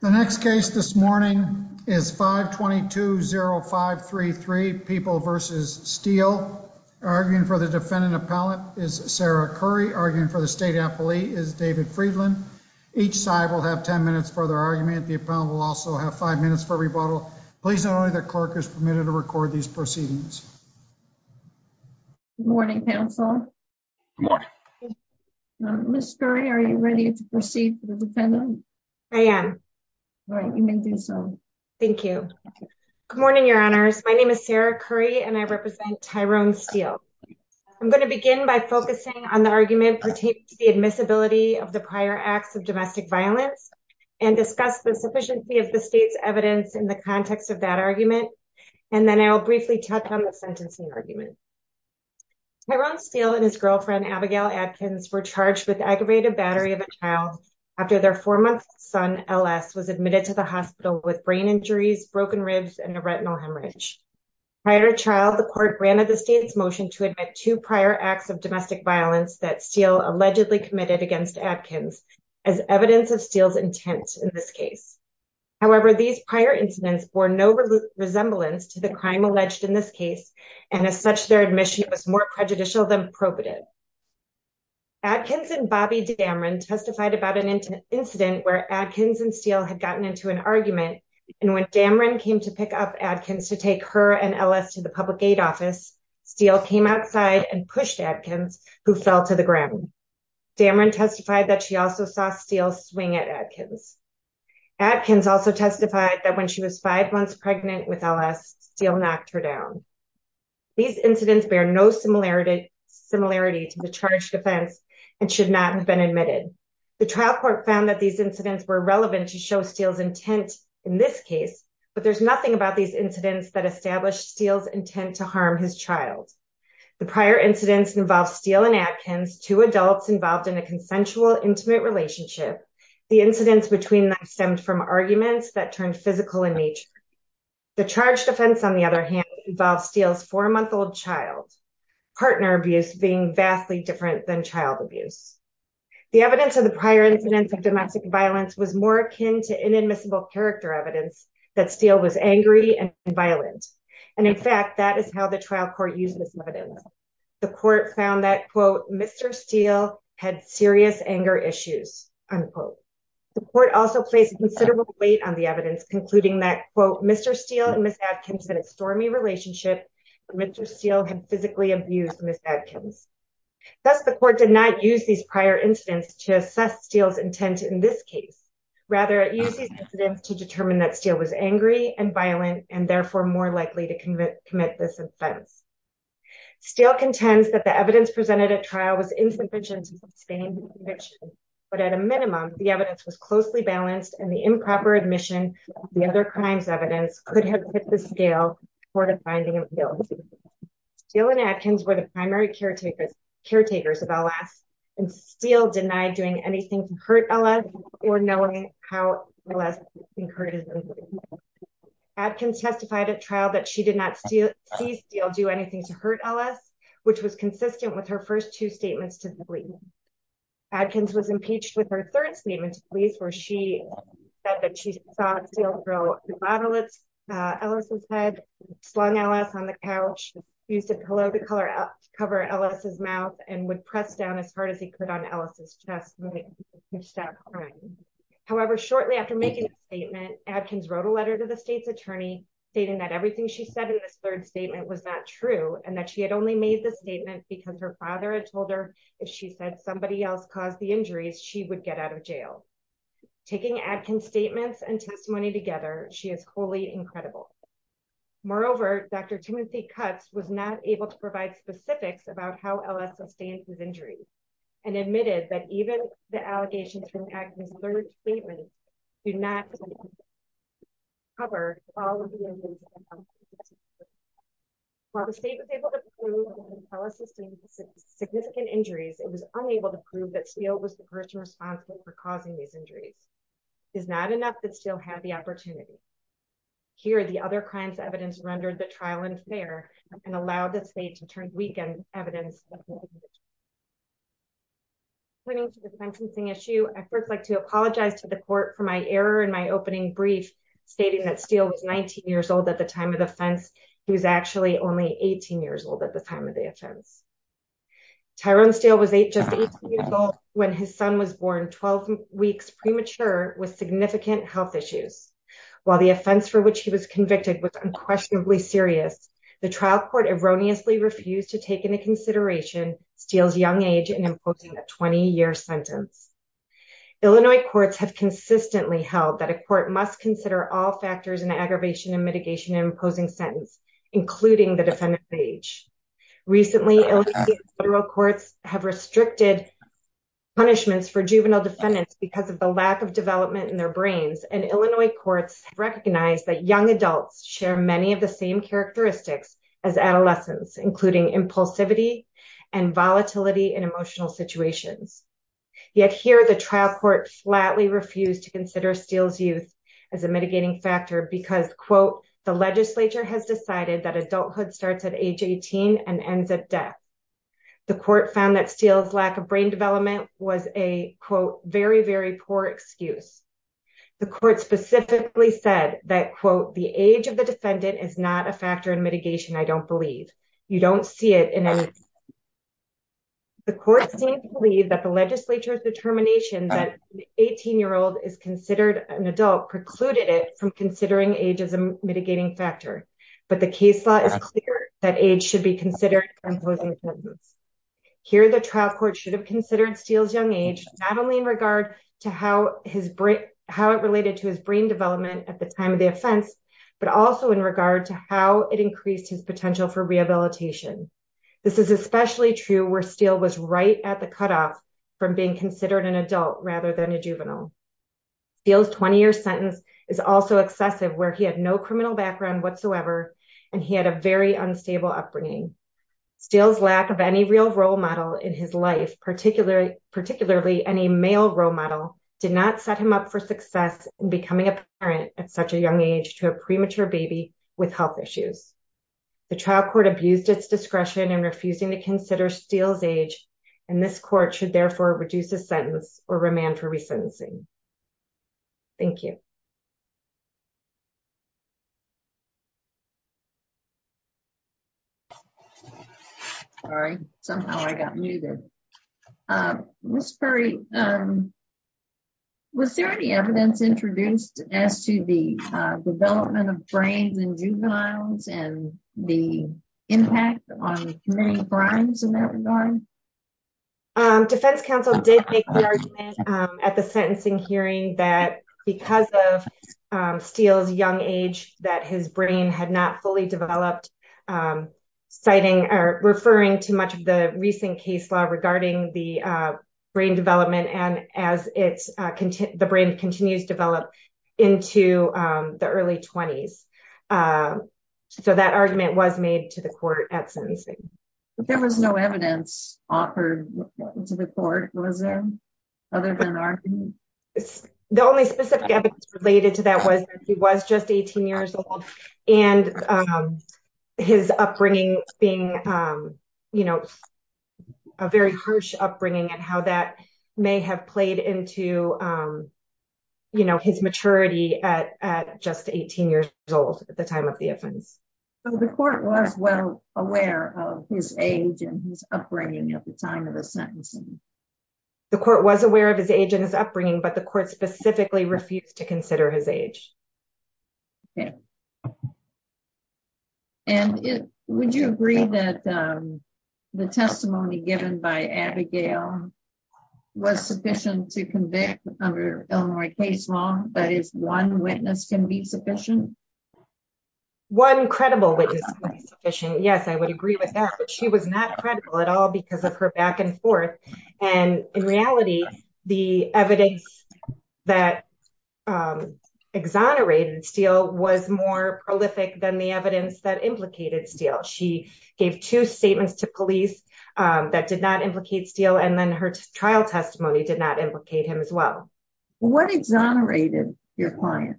The next case this morning is 522-0533, People v. Steele. Arguing for the defendant appellant is Sarah Curry. Arguing for the state appellee is David Friedland. Each side will have 10 minutes for their argument. The appellant will also have 5 minutes for rebuttal. Please note only that the clerk is permitted to record these proceedings. Good morning, counsel. Good morning. Ms. Curry, are you ready to proceed for the defendant? I am. Thank you. Good morning, your honors. My name is Sarah Curry and I represent Tyrone Steele. I'm going to begin by focusing on the argument pertaining to the admissibility of the prior acts of domestic violence and discuss the sufficiency of the state's evidence in the context of that argument. And then I'll briefly touch on the sentencing argument. Tyrone Steele and his girlfriend, Abigail Adkins, were charged with aggravated battery of a child after their four-month-old son, LS, was admitted to the hospital with brain injuries, broken ribs, and a retinal hemorrhage. Prior to trial, the court granted the state's motion to admit two prior acts of domestic violence that Steele allegedly committed against Adkins as evidence of Steele's intent in this case. However, these prior incidents bore no resemblance to the crime alleged in this case and as such, their admission was more prejudicial than probative. Adkins and Bobbi Damron testified about an incident where Adkins and Steele had gotten into an argument and when Damron came to pick up Adkins to take her and LS to the public aid office, Steele came outside and pushed Adkins, who fell to the ground. Damron testified that she also saw Steele swing at Adkins. Adkins also testified that when she was five months pregnant with LS, Steele knocked her down. These incidents bear no similarity to the charged offense and should not have been admitted. The trial court found that these incidents were relevant to show Steele's intent in this case, but there's nothing about these incidents that established Steele's intent to harm his child. The prior incidents involved Steele and Adkins, two adults involved in a consensual, intimate relationship. The incidents between them stemmed from arguments that turned physical in nature. The charged offense, on the other hand, involved Steele's four-month-old child. Partner abuse being vastly different than child abuse. The evidence of the prior incidents of domestic violence was more akin to inadmissible character evidence that Steele was angry and violent, and in fact, that is how the trial court used this evidence. The court found that, quote, Mr. Steele had serious anger issues, unquote. The court also placed considerable weight on the evidence, concluding that, quote, Mr. Steele and Ms. Adkins had a stormy relationship and Mr. Steele had physically abused Ms. Adkins. Thus, the court did not use these prior incidents to assess Steele's intent in this case. Rather, it used these incidents to determine that Steele was angry and violent and therefore more likely to commit this offense. Steele contends that the evidence presented at trial was insufficient to sustain the conviction, but at a minimum, the evidence was closely balanced, and the improper admission of the other crimes evidence could have hit the scale for the finding of guilt. Steele and Adkins were the primary caretakers of LS, and Steele denied doing anything to hurt LS or knowing how LS being hurt is. Adkins testified at trial that she did not see Steele do anything to hurt LS, which was consistent with her first two statements to the police. Adkins was impeached with her third statement to police where she said that she saw Steele throw a bottle at LS's head, slung LS on the couch, used a pillow to cover LS's mouth, and would press down as hard as he could on LS's chest. However, shortly after making the statement, Adkins wrote a letter to the state's attorney stating that everything she said in this third statement was not true and that she had only made the statement because her father had told her if she said somebody else caused the injuries, she would get out of jail. Taking Adkins' statements and testimony together, she is wholly incredible. Moreover, Dr. Timothy Cutts was not able to provide specifics about how LS sustained his injuries and admitted that even the allegations from Adkins' third statement do not cover all of the injuries. While the state was able to prove that LS sustained significant injuries, it was unable to prove that Steele was the person responsible for causing these injuries. It is not enough that Steele had the opportunity. Here, the other crimes evidence rendered the trial unfair and allowed the state to turn weak in evidence. Pointing to the sentencing issue, I'd first like to apologize to the court for my error in my opening brief, stating that Steele was 19 years old at the time of the offense. He was actually only 18 years old at the time of the offense. Tyrone Steele was just 18 years old when his son was born 12 weeks premature with significant health issues. While the offense for which he was convicted was unquestionably serious, the trial court erroneously refused to take into consideration Steele's young age and imposing a 20-year sentence. Illinois courts have consistently held that a court must consider all factors in the aggravation and mitigation Recently, Illinois federal courts have restricted punishments for juvenile defendants because of the lack of development in their brains, and Illinois courts have recognized that young adults share many of the same characteristics as adolescents, including impulsivity and volatility in emotional situations. Yet here, the trial court flatly refused to consider Steele's youth as a mitigating factor because, quote, the legislature has decided that adulthood starts at age 18 and ends at death. The court found that Steele's lack of brain development was a, quote, very, very poor excuse. The court specifically said that, quote, the age of the defendant is not a factor in mitigation, I don't believe. You don't see it in any. The court seemed to believe that the legislature's determination that an 18-year-old is considered an adult precluded it from considering age as a mitigating factor, but the case law is clear that age should be considered for imposing a sentence. Here, the trial court should have considered Steele's young age not only in regard to how it related to his brain development at the time of the offense, but also in regard to how it increased his potential for rehabilitation. This is especially true where Steele was right at the cutoff from being considered an adult rather than a juvenile. Steele's 20-year sentence is also excessive where he had no criminal background whatsoever, and he had a very unstable upbringing. Steele's lack of any real role model in his life, particularly any male role model, did not set him up for success in becoming a parent at such a young age to a premature baby with health issues. The trial court abused its discretion in refusing to consider Steele's age, and this court should therefore reduce the sentence or remand for resentencing. Thank you. Sorry, somehow I got muted. Ms. Perry, was there any evidence introduced as to the development of brains in juveniles and the impact on community crimes in that regard? Defense counsel did make the argument at the sentencing hearing that because of Steele's young age that his brain had not fully developed, citing or referring to much of the recent case law regarding the brain development and as the brain continues to develop into the early 20s. So that argument was made to the court at sentencing. There was no evidence offered to the court, was there, other than argument? The only specific evidence related to that was that he was just 18 years old, and his upbringing being a very harsh upbringing and how that may have played into his maturity at just 18 years old at the time of the offense. So the court was well aware of his age and his upbringing at the time of the sentencing? The court was aware of his age and his upbringing, but the court specifically refused to consider his age. And would you agree that the testimony given by Abigail was sufficient to convict under Illinois case law, that is, one witness can be sufficient? One credible witness can be sufficient, yes, I would agree with that, but she was not credible at all because of her back and forth. And in reality, the evidence that exonerated Steele was more prolific than the evidence that implicated Steele. She gave two statements to police that did not implicate Steele, and then her trial testimony did not implicate him as well. What exonerated your client?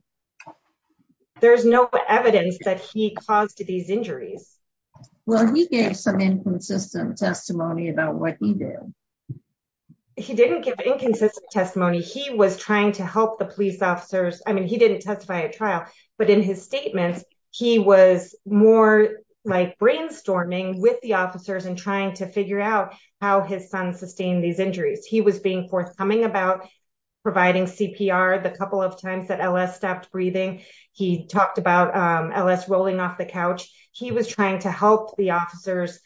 There's no evidence that he caused these injuries. Well, he gave some inconsistent testimony about what he did. He didn't give inconsistent testimony. He was trying to help the police officers. I mean, he didn't testify at trial, but in his statements, he was more like brainstorming with the officers and trying to figure out how his son sustained these injuries. He was being forthcoming about providing CPR the couple of times that L.S. stopped breathing. He talked about L.S. rolling off the couch. He was trying to help the officers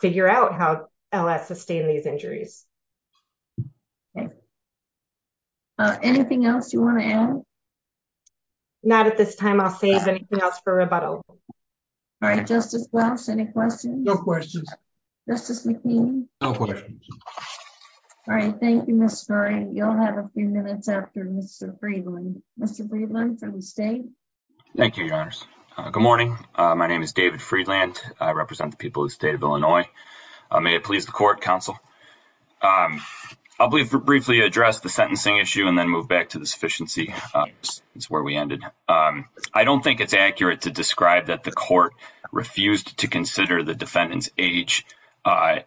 figure out how L.S. sustained these injuries. Anything else you want to add? Not at this time. I'll save anything else for rebuttal. Justice Welch, any questions? No questions. Justice McQueen? No questions. All right. Thank you, Mr. Murray. You'll have a few minutes after Mr. Friedland. Mr. Friedland from the state. Thank you, Your Honors. Good morning. My name is David Friedland. I represent the people of the state of Illinois. May it please the court, counsel. I'll briefly address the sentencing issue and then move back to the sufficiency. That's where we ended. I don't think it's accurate to describe that the court refused to consider the defendant's age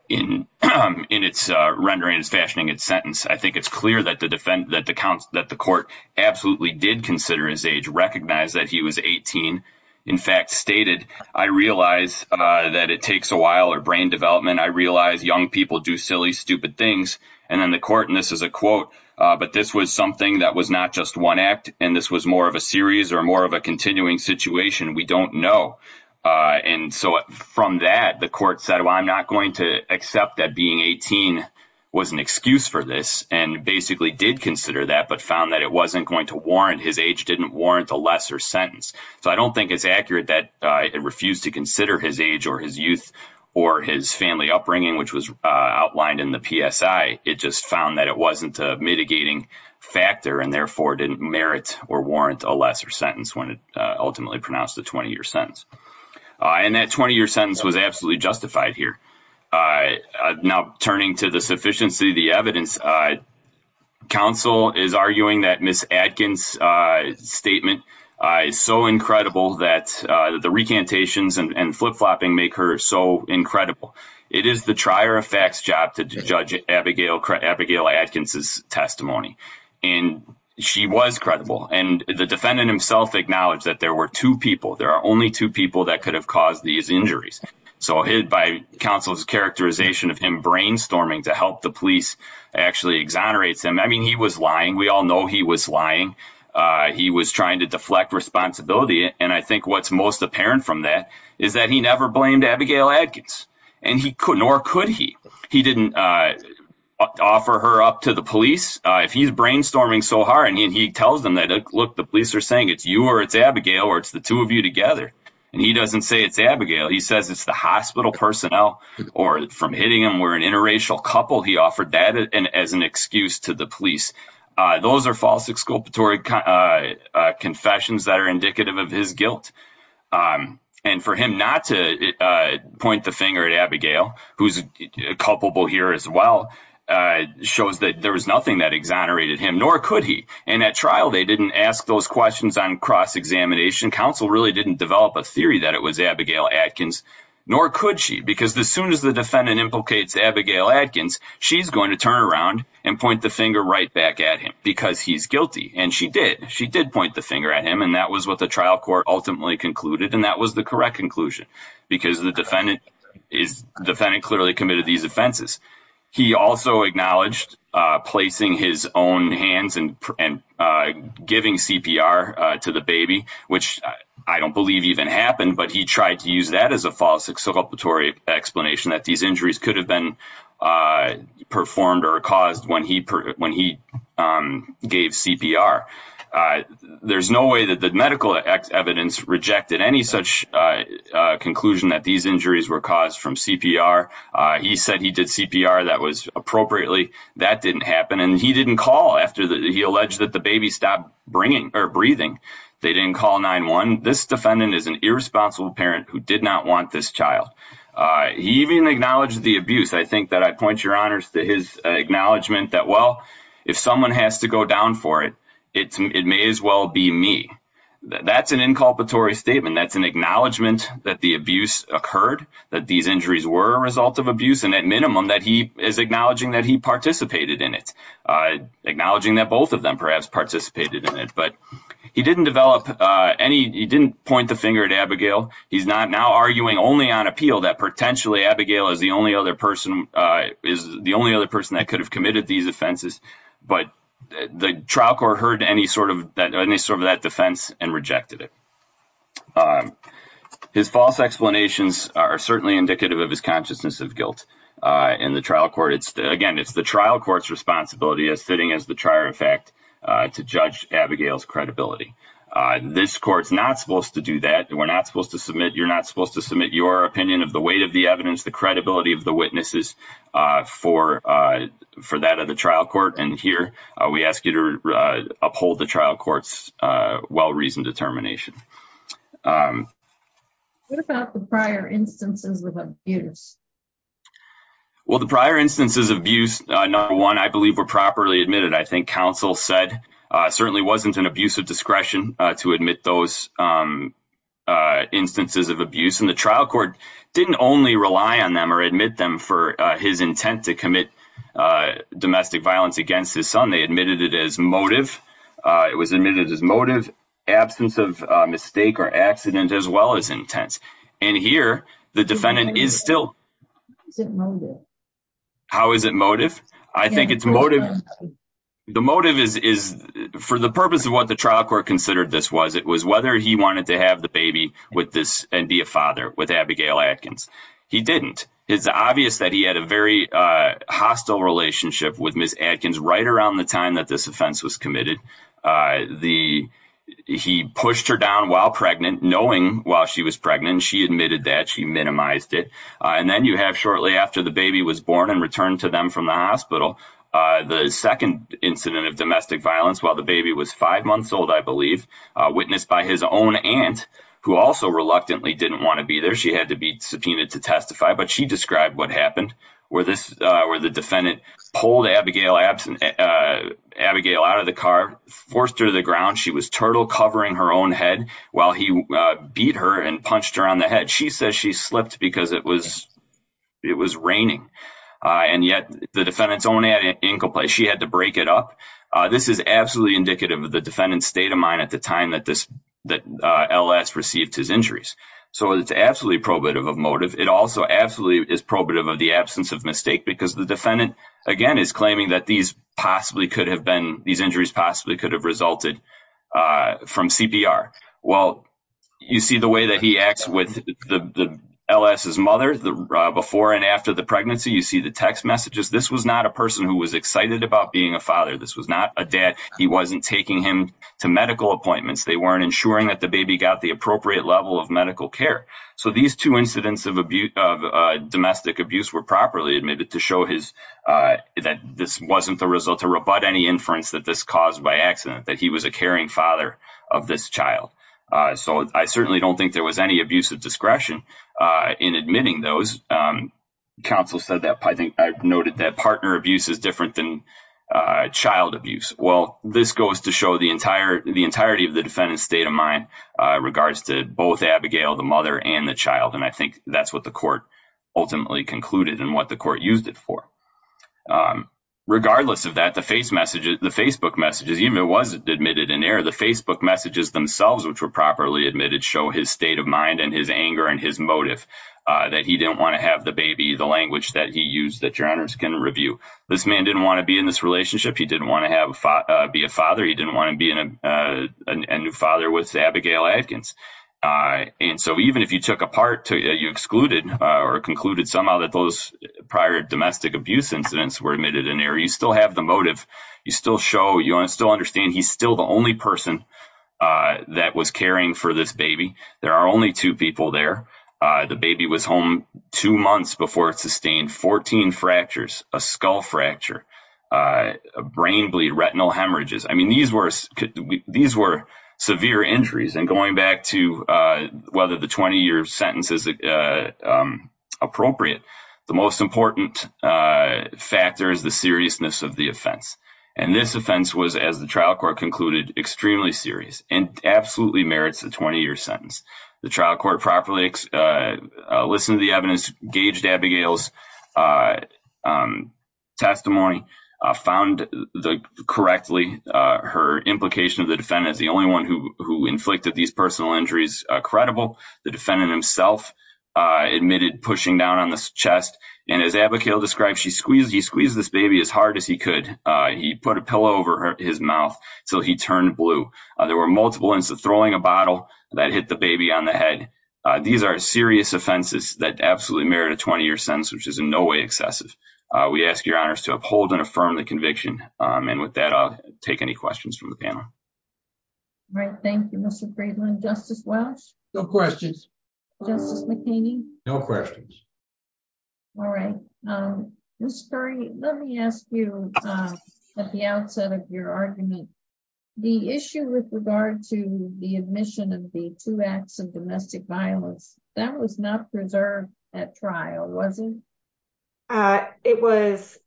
in its rendering, its fashioning, its sentence. I think it's clear that the defense, that the court absolutely did consider his age, recognize that he was 18. In fact, stated, I realize that it takes a while or brain development. I realize young people do silly, stupid things. And then the court, and this is a quote, but this was something that was not just one act. And this was more of a series or more of a continuing situation. We don't know. And so from that, the court said, well, I'm not going to accept that being 18 was an excuse for this. And basically did consider that, but found that it wasn't going to warrant his age, didn't warrant a lesser sentence. So I don't think it's accurate that it refused to consider his age or his youth or his family upbringing, which was outlined in the PSI. It just found that it wasn't a mitigating factor and therefore didn't merit or warrant a lesser sentence when it ultimately pronounced a 20-year sentence. And that 20-year sentence was absolutely justified here. Now turning to the sufficiency of the evidence, counsel is arguing that Miss Adkins' statement is so incredible that the recantations and flip-flopping make her so incredible. It is the trier of facts job to judge Abigail Adkins' testimony. And she was credible. And the defendant himself acknowledged that there were two people, there are only two people that could have caused these injuries. So by counsel's characterization of him brainstorming to help the police actually exonerates him. I mean, he was lying. We all know he was lying. He was trying to deflect responsibility. And I think what's most apparent from that is that he never blamed Abigail Adkins. And nor could he. He didn't offer her up to the police. If he's brainstorming so hard and he tells them that, look, the police are saying it's you or it's Abigail or it's the two of you together. And he doesn't say it's Abigail. He says it's the hospital personnel or from hitting him or an interracial couple. He offered that as an excuse to the police. Those are false exculpatory confessions that are indicative of his guilt. And for him not to point the finger at Abigail, who's culpable here as well, shows that there was nothing that exonerated him, nor could he. And at trial, they didn't ask those questions on cross-examination. The prison council really didn't develop a theory that it was Abigail Adkins, nor could she, because as soon as the defendant implicates Abigail Adkins, she's going to turn around and point the finger right back at him because he's guilty. And she did. She did point the finger at him, and that was what the trial court ultimately concluded, and that was the correct conclusion because the defendant clearly committed these offenses. He also acknowledged placing his own hands and giving CPR to the baby, which I don't believe even happened, but he tried to use that as a false exculpatory explanation that these injuries could have been performed or caused when he gave CPR. There's no way that the medical evidence rejected any such conclusion that these injuries were caused from CPR. He said he did CPR that was appropriately. That didn't happen, and he didn't call after he alleged that the baby stopped breathing. They didn't call 911. This defendant is an irresponsible parent who did not want this child. He even acknowledged the abuse. I think that I point your honors to his acknowledgment that, well, if someone has to go down for it, it may as well be me. That's an inculpatory statement. That's an acknowledgment that the abuse occurred, that these injuries were a result of abuse, and at minimum that he is acknowledging that he participated in it, acknowledging that both of them perhaps participated in it. But he didn't develop any – he didn't point the finger at Abigail. He's now arguing only on appeal that potentially Abigail is the only other person that could have committed these offenses, but the trial court heard any sort of that defense and rejected it. His false explanations are certainly indicative of his consciousness of guilt in the trial court. Again, it's the trial court's responsibility, as fitting as the trier of fact, to judge Abigail's credibility. This court's not supposed to do that. We're not supposed to submit – you're not supposed to submit your opinion of the weight of the evidence, the credibility of the witnesses for that of the trial court. And here we ask you to uphold the trial court's well-reasoned determination. What about the prior instances of abuse? Well, the prior instances of abuse, number one, I believe were properly admitted. I think counsel said it certainly wasn't an abuse of discretion to admit those instances of abuse. And the trial court didn't only rely on them or admit them for his intent to commit domestic violence against his son. They admitted it as motive. It was admitted as motive, absence of mistake or accident, as well as intent. And here the defendant is still – How is it motive? How is it motive? I think it's motive – the motive is for the purpose of what the trial court considered this was. It was whether he wanted to have the baby with this and be a father with Abigail Atkins. He didn't. It's obvious that he had a very hostile relationship with Ms. Atkins right around the time that this offense was committed. He pushed her down while pregnant, knowing while she was pregnant she admitted that. She minimized it. And then you have shortly after the baby was born and returned to them from the hospital, the second incident of domestic violence while the baby was five months old, I believe, witnessed by his own aunt, who also reluctantly didn't want to be there. She had to be subpoenaed to testify. But she described what happened where the defendant pulled Abigail out of the car, forced her to the ground. She was turtle covering her own head while he beat her and punched her on the head. She says she slipped because it was raining. And yet the defendant's own aunt, she had to break it up. This is absolutely indicative of the defendant's state of mind at the time that LS received his injuries. So it's absolutely probative of motive. It also absolutely is probative of the absence of mistake because the defendant, again, is claiming that these injuries possibly could have resulted from CPR. Well, you see the way that he acts with LS's mother before and after the pregnancy. You see the text messages. This was not a person who was excited about being a father. This was not a dad. He wasn't taking him to medical appointments. They weren't ensuring that the baby got the appropriate level of medical care. So these two incidents of domestic abuse were properly admitted to show that this wasn't the result, to rebut any inference that this caused by accident, that he was a caring father of this child. So I certainly don't think there was any abuse of discretion in admitting those. Counsel noted that partner abuse is different than child abuse. Well, this goes to show the entirety of the defendant's state of mind in regards to both Abigail, the mother, and the child, and I think that's what the court ultimately concluded and what the court used it for. Regardless of that, the Facebook messages, even though it was admitted in error, the Facebook messages themselves, which were properly admitted, show his state of mind and his anger and his motive that he didn't want to have the baby, the language that he used that your honors can review. This man didn't want to be in this relationship. He didn't want to be a father. He didn't want to be a new father with Abigail Adkins. And so even if you took apart, you excluded or concluded somehow that those prior domestic abuse incidents were admitted in error, you still have the motive. You still show, you still understand he's still the only person that was caring for this baby. There are only two people there. The baby was home two months before it sustained 14 fractures, a skull fracture, a brain bleed, retinal hemorrhages. I mean, these were severe injuries. And going back to whether the 20-year sentence is appropriate, the most important factor is the seriousness of the offense. And this offense was, as the trial court concluded, extremely serious and absolutely merits a 20-year sentence. The trial court properly listened to the evidence, gauged Abigail's testimony, found correctly her implication of the defendant as the only one who inflicted these personal injuries credible. The defendant himself admitted pushing down on the chest. And as Abigail described, she squeezed, he squeezed this baby as hard as he could. He put a pillow over his mouth until he turned blue. There were multiple instances of throwing a bottle that hit the baby on the head. These are serious offenses that absolutely merit a 20-year sentence, which is in no way excessive. We ask your honors to uphold and affirm the conviction. And with that, I'll take any questions from the panel. All right, thank you, Mr. Friedland. Justice Welch? No questions. Justice McHaney? No questions. All right. Ms. Curry, let me ask you at the outset of your argument, the issue with regard to the admission of the two acts of domestic violence, that was not preserved at trial, was it? It was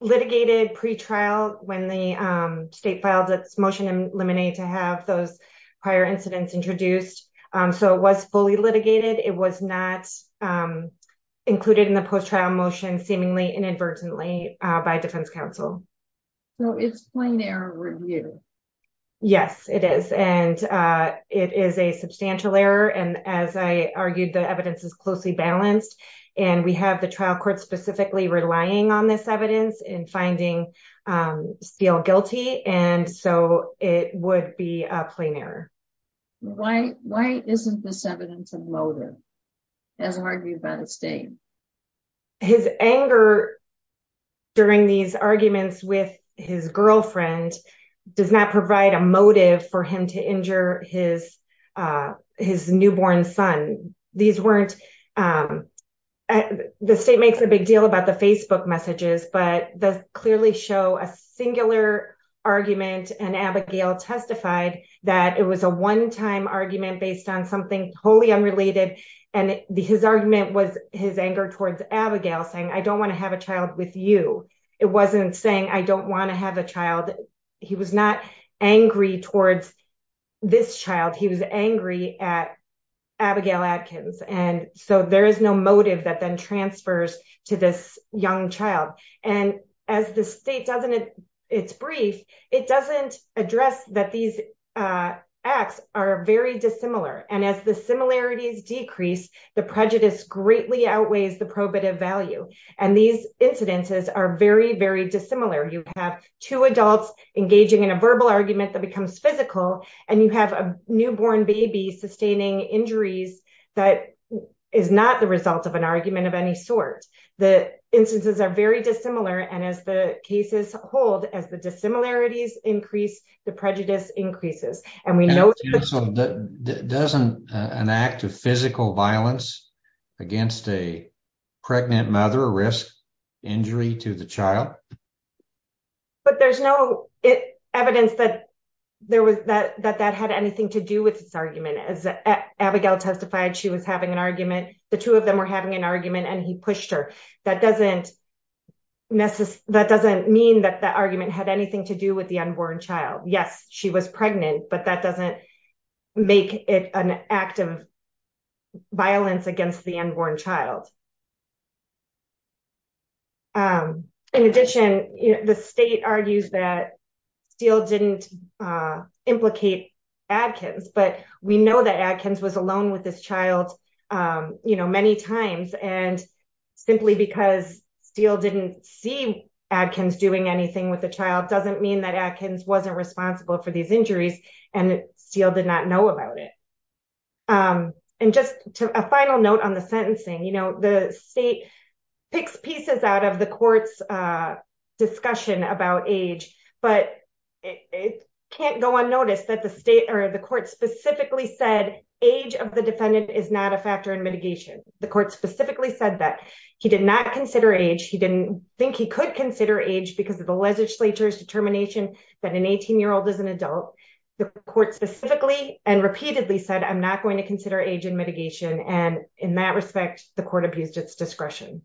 litigated pretrial when the state filed its motion to eliminate to have those prior incidents introduced. So it was fully litigated. It was not included in the post-trial motion seemingly inadvertently by defense counsel. So it's plain error review. Yes, it is. And it is a substantial error. And as I argued, the evidence is closely balanced. And we have the trial court specifically relying on this evidence in finding Steele guilty. And so it would be a plain error. Why isn't this evidence a motive, as argued by the state? His anger during these arguments with his girlfriend does not provide a motive for him to injure his newborn son. The state makes a big deal about the Facebook messages, but does clearly show a singular argument. And Abigail testified that it was a one-time argument based on something wholly unrelated. And his argument was his anger towards Abigail saying, I don't want to have a child with you. It wasn't saying, I don't want to have a child. He was not angry towards this child. He was angry at Abigail Adkins. And so there is no motive that then transfers to this young child. And as the state does in its brief, it doesn't address that these acts are very dissimilar. And as the similarities decrease, the prejudice greatly outweighs the probative value. And these incidences are very, very dissimilar. You have two adults engaging in a verbal argument that becomes physical. And you have a newborn baby sustaining injuries that is not the result of an argument of any sort. The instances are very dissimilar. And as the cases hold, as the dissimilarities increase, the prejudice increases. Doesn't an act of physical violence against a pregnant mother risk injury to the child? But there's no evidence that that had anything to do with this argument. As Abigail testified, she was having an argument. The two of them were having an argument, and he pushed her. That doesn't mean that the argument had anything to do with the unborn child. Yes, she was pregnant, but that doesn't make it an act of violence against the unborn child. In addition, the state argues that Steele didn't implicate Adkins, but we know that Adkins was alone with this child many times. And simply because Steele didn't see Adkins doing anything with the child doesn't mean that Adkins wasn't responsible for these injuries and Steele did not know about it. And just a final note on the sentencing. You know, the state picks pieces out of the court's discussion about age, but it can't go unnoticed that the state or the court specifically said age of the defendant is not a factor in mitigation. The court specifically said that he did not consider age. He didn't think he could consider age because of the legislature's determination that an 18-year-old is an adult. The court specifically and repeatedly said, I'm not going to consider age in mitigation. And in that respect, the court abused its discretion.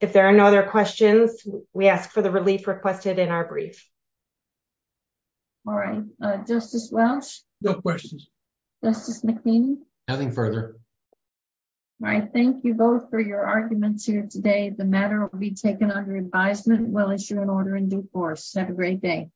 If there are no other questions, we ask for the relief requested in our brief. All right. Justice Welch? No questions. Justice McNeely? Nothing further. All right. Thank you both for your arguments here today. The matter will be taken under advisement. We'll issue an order in due course. Have a great day.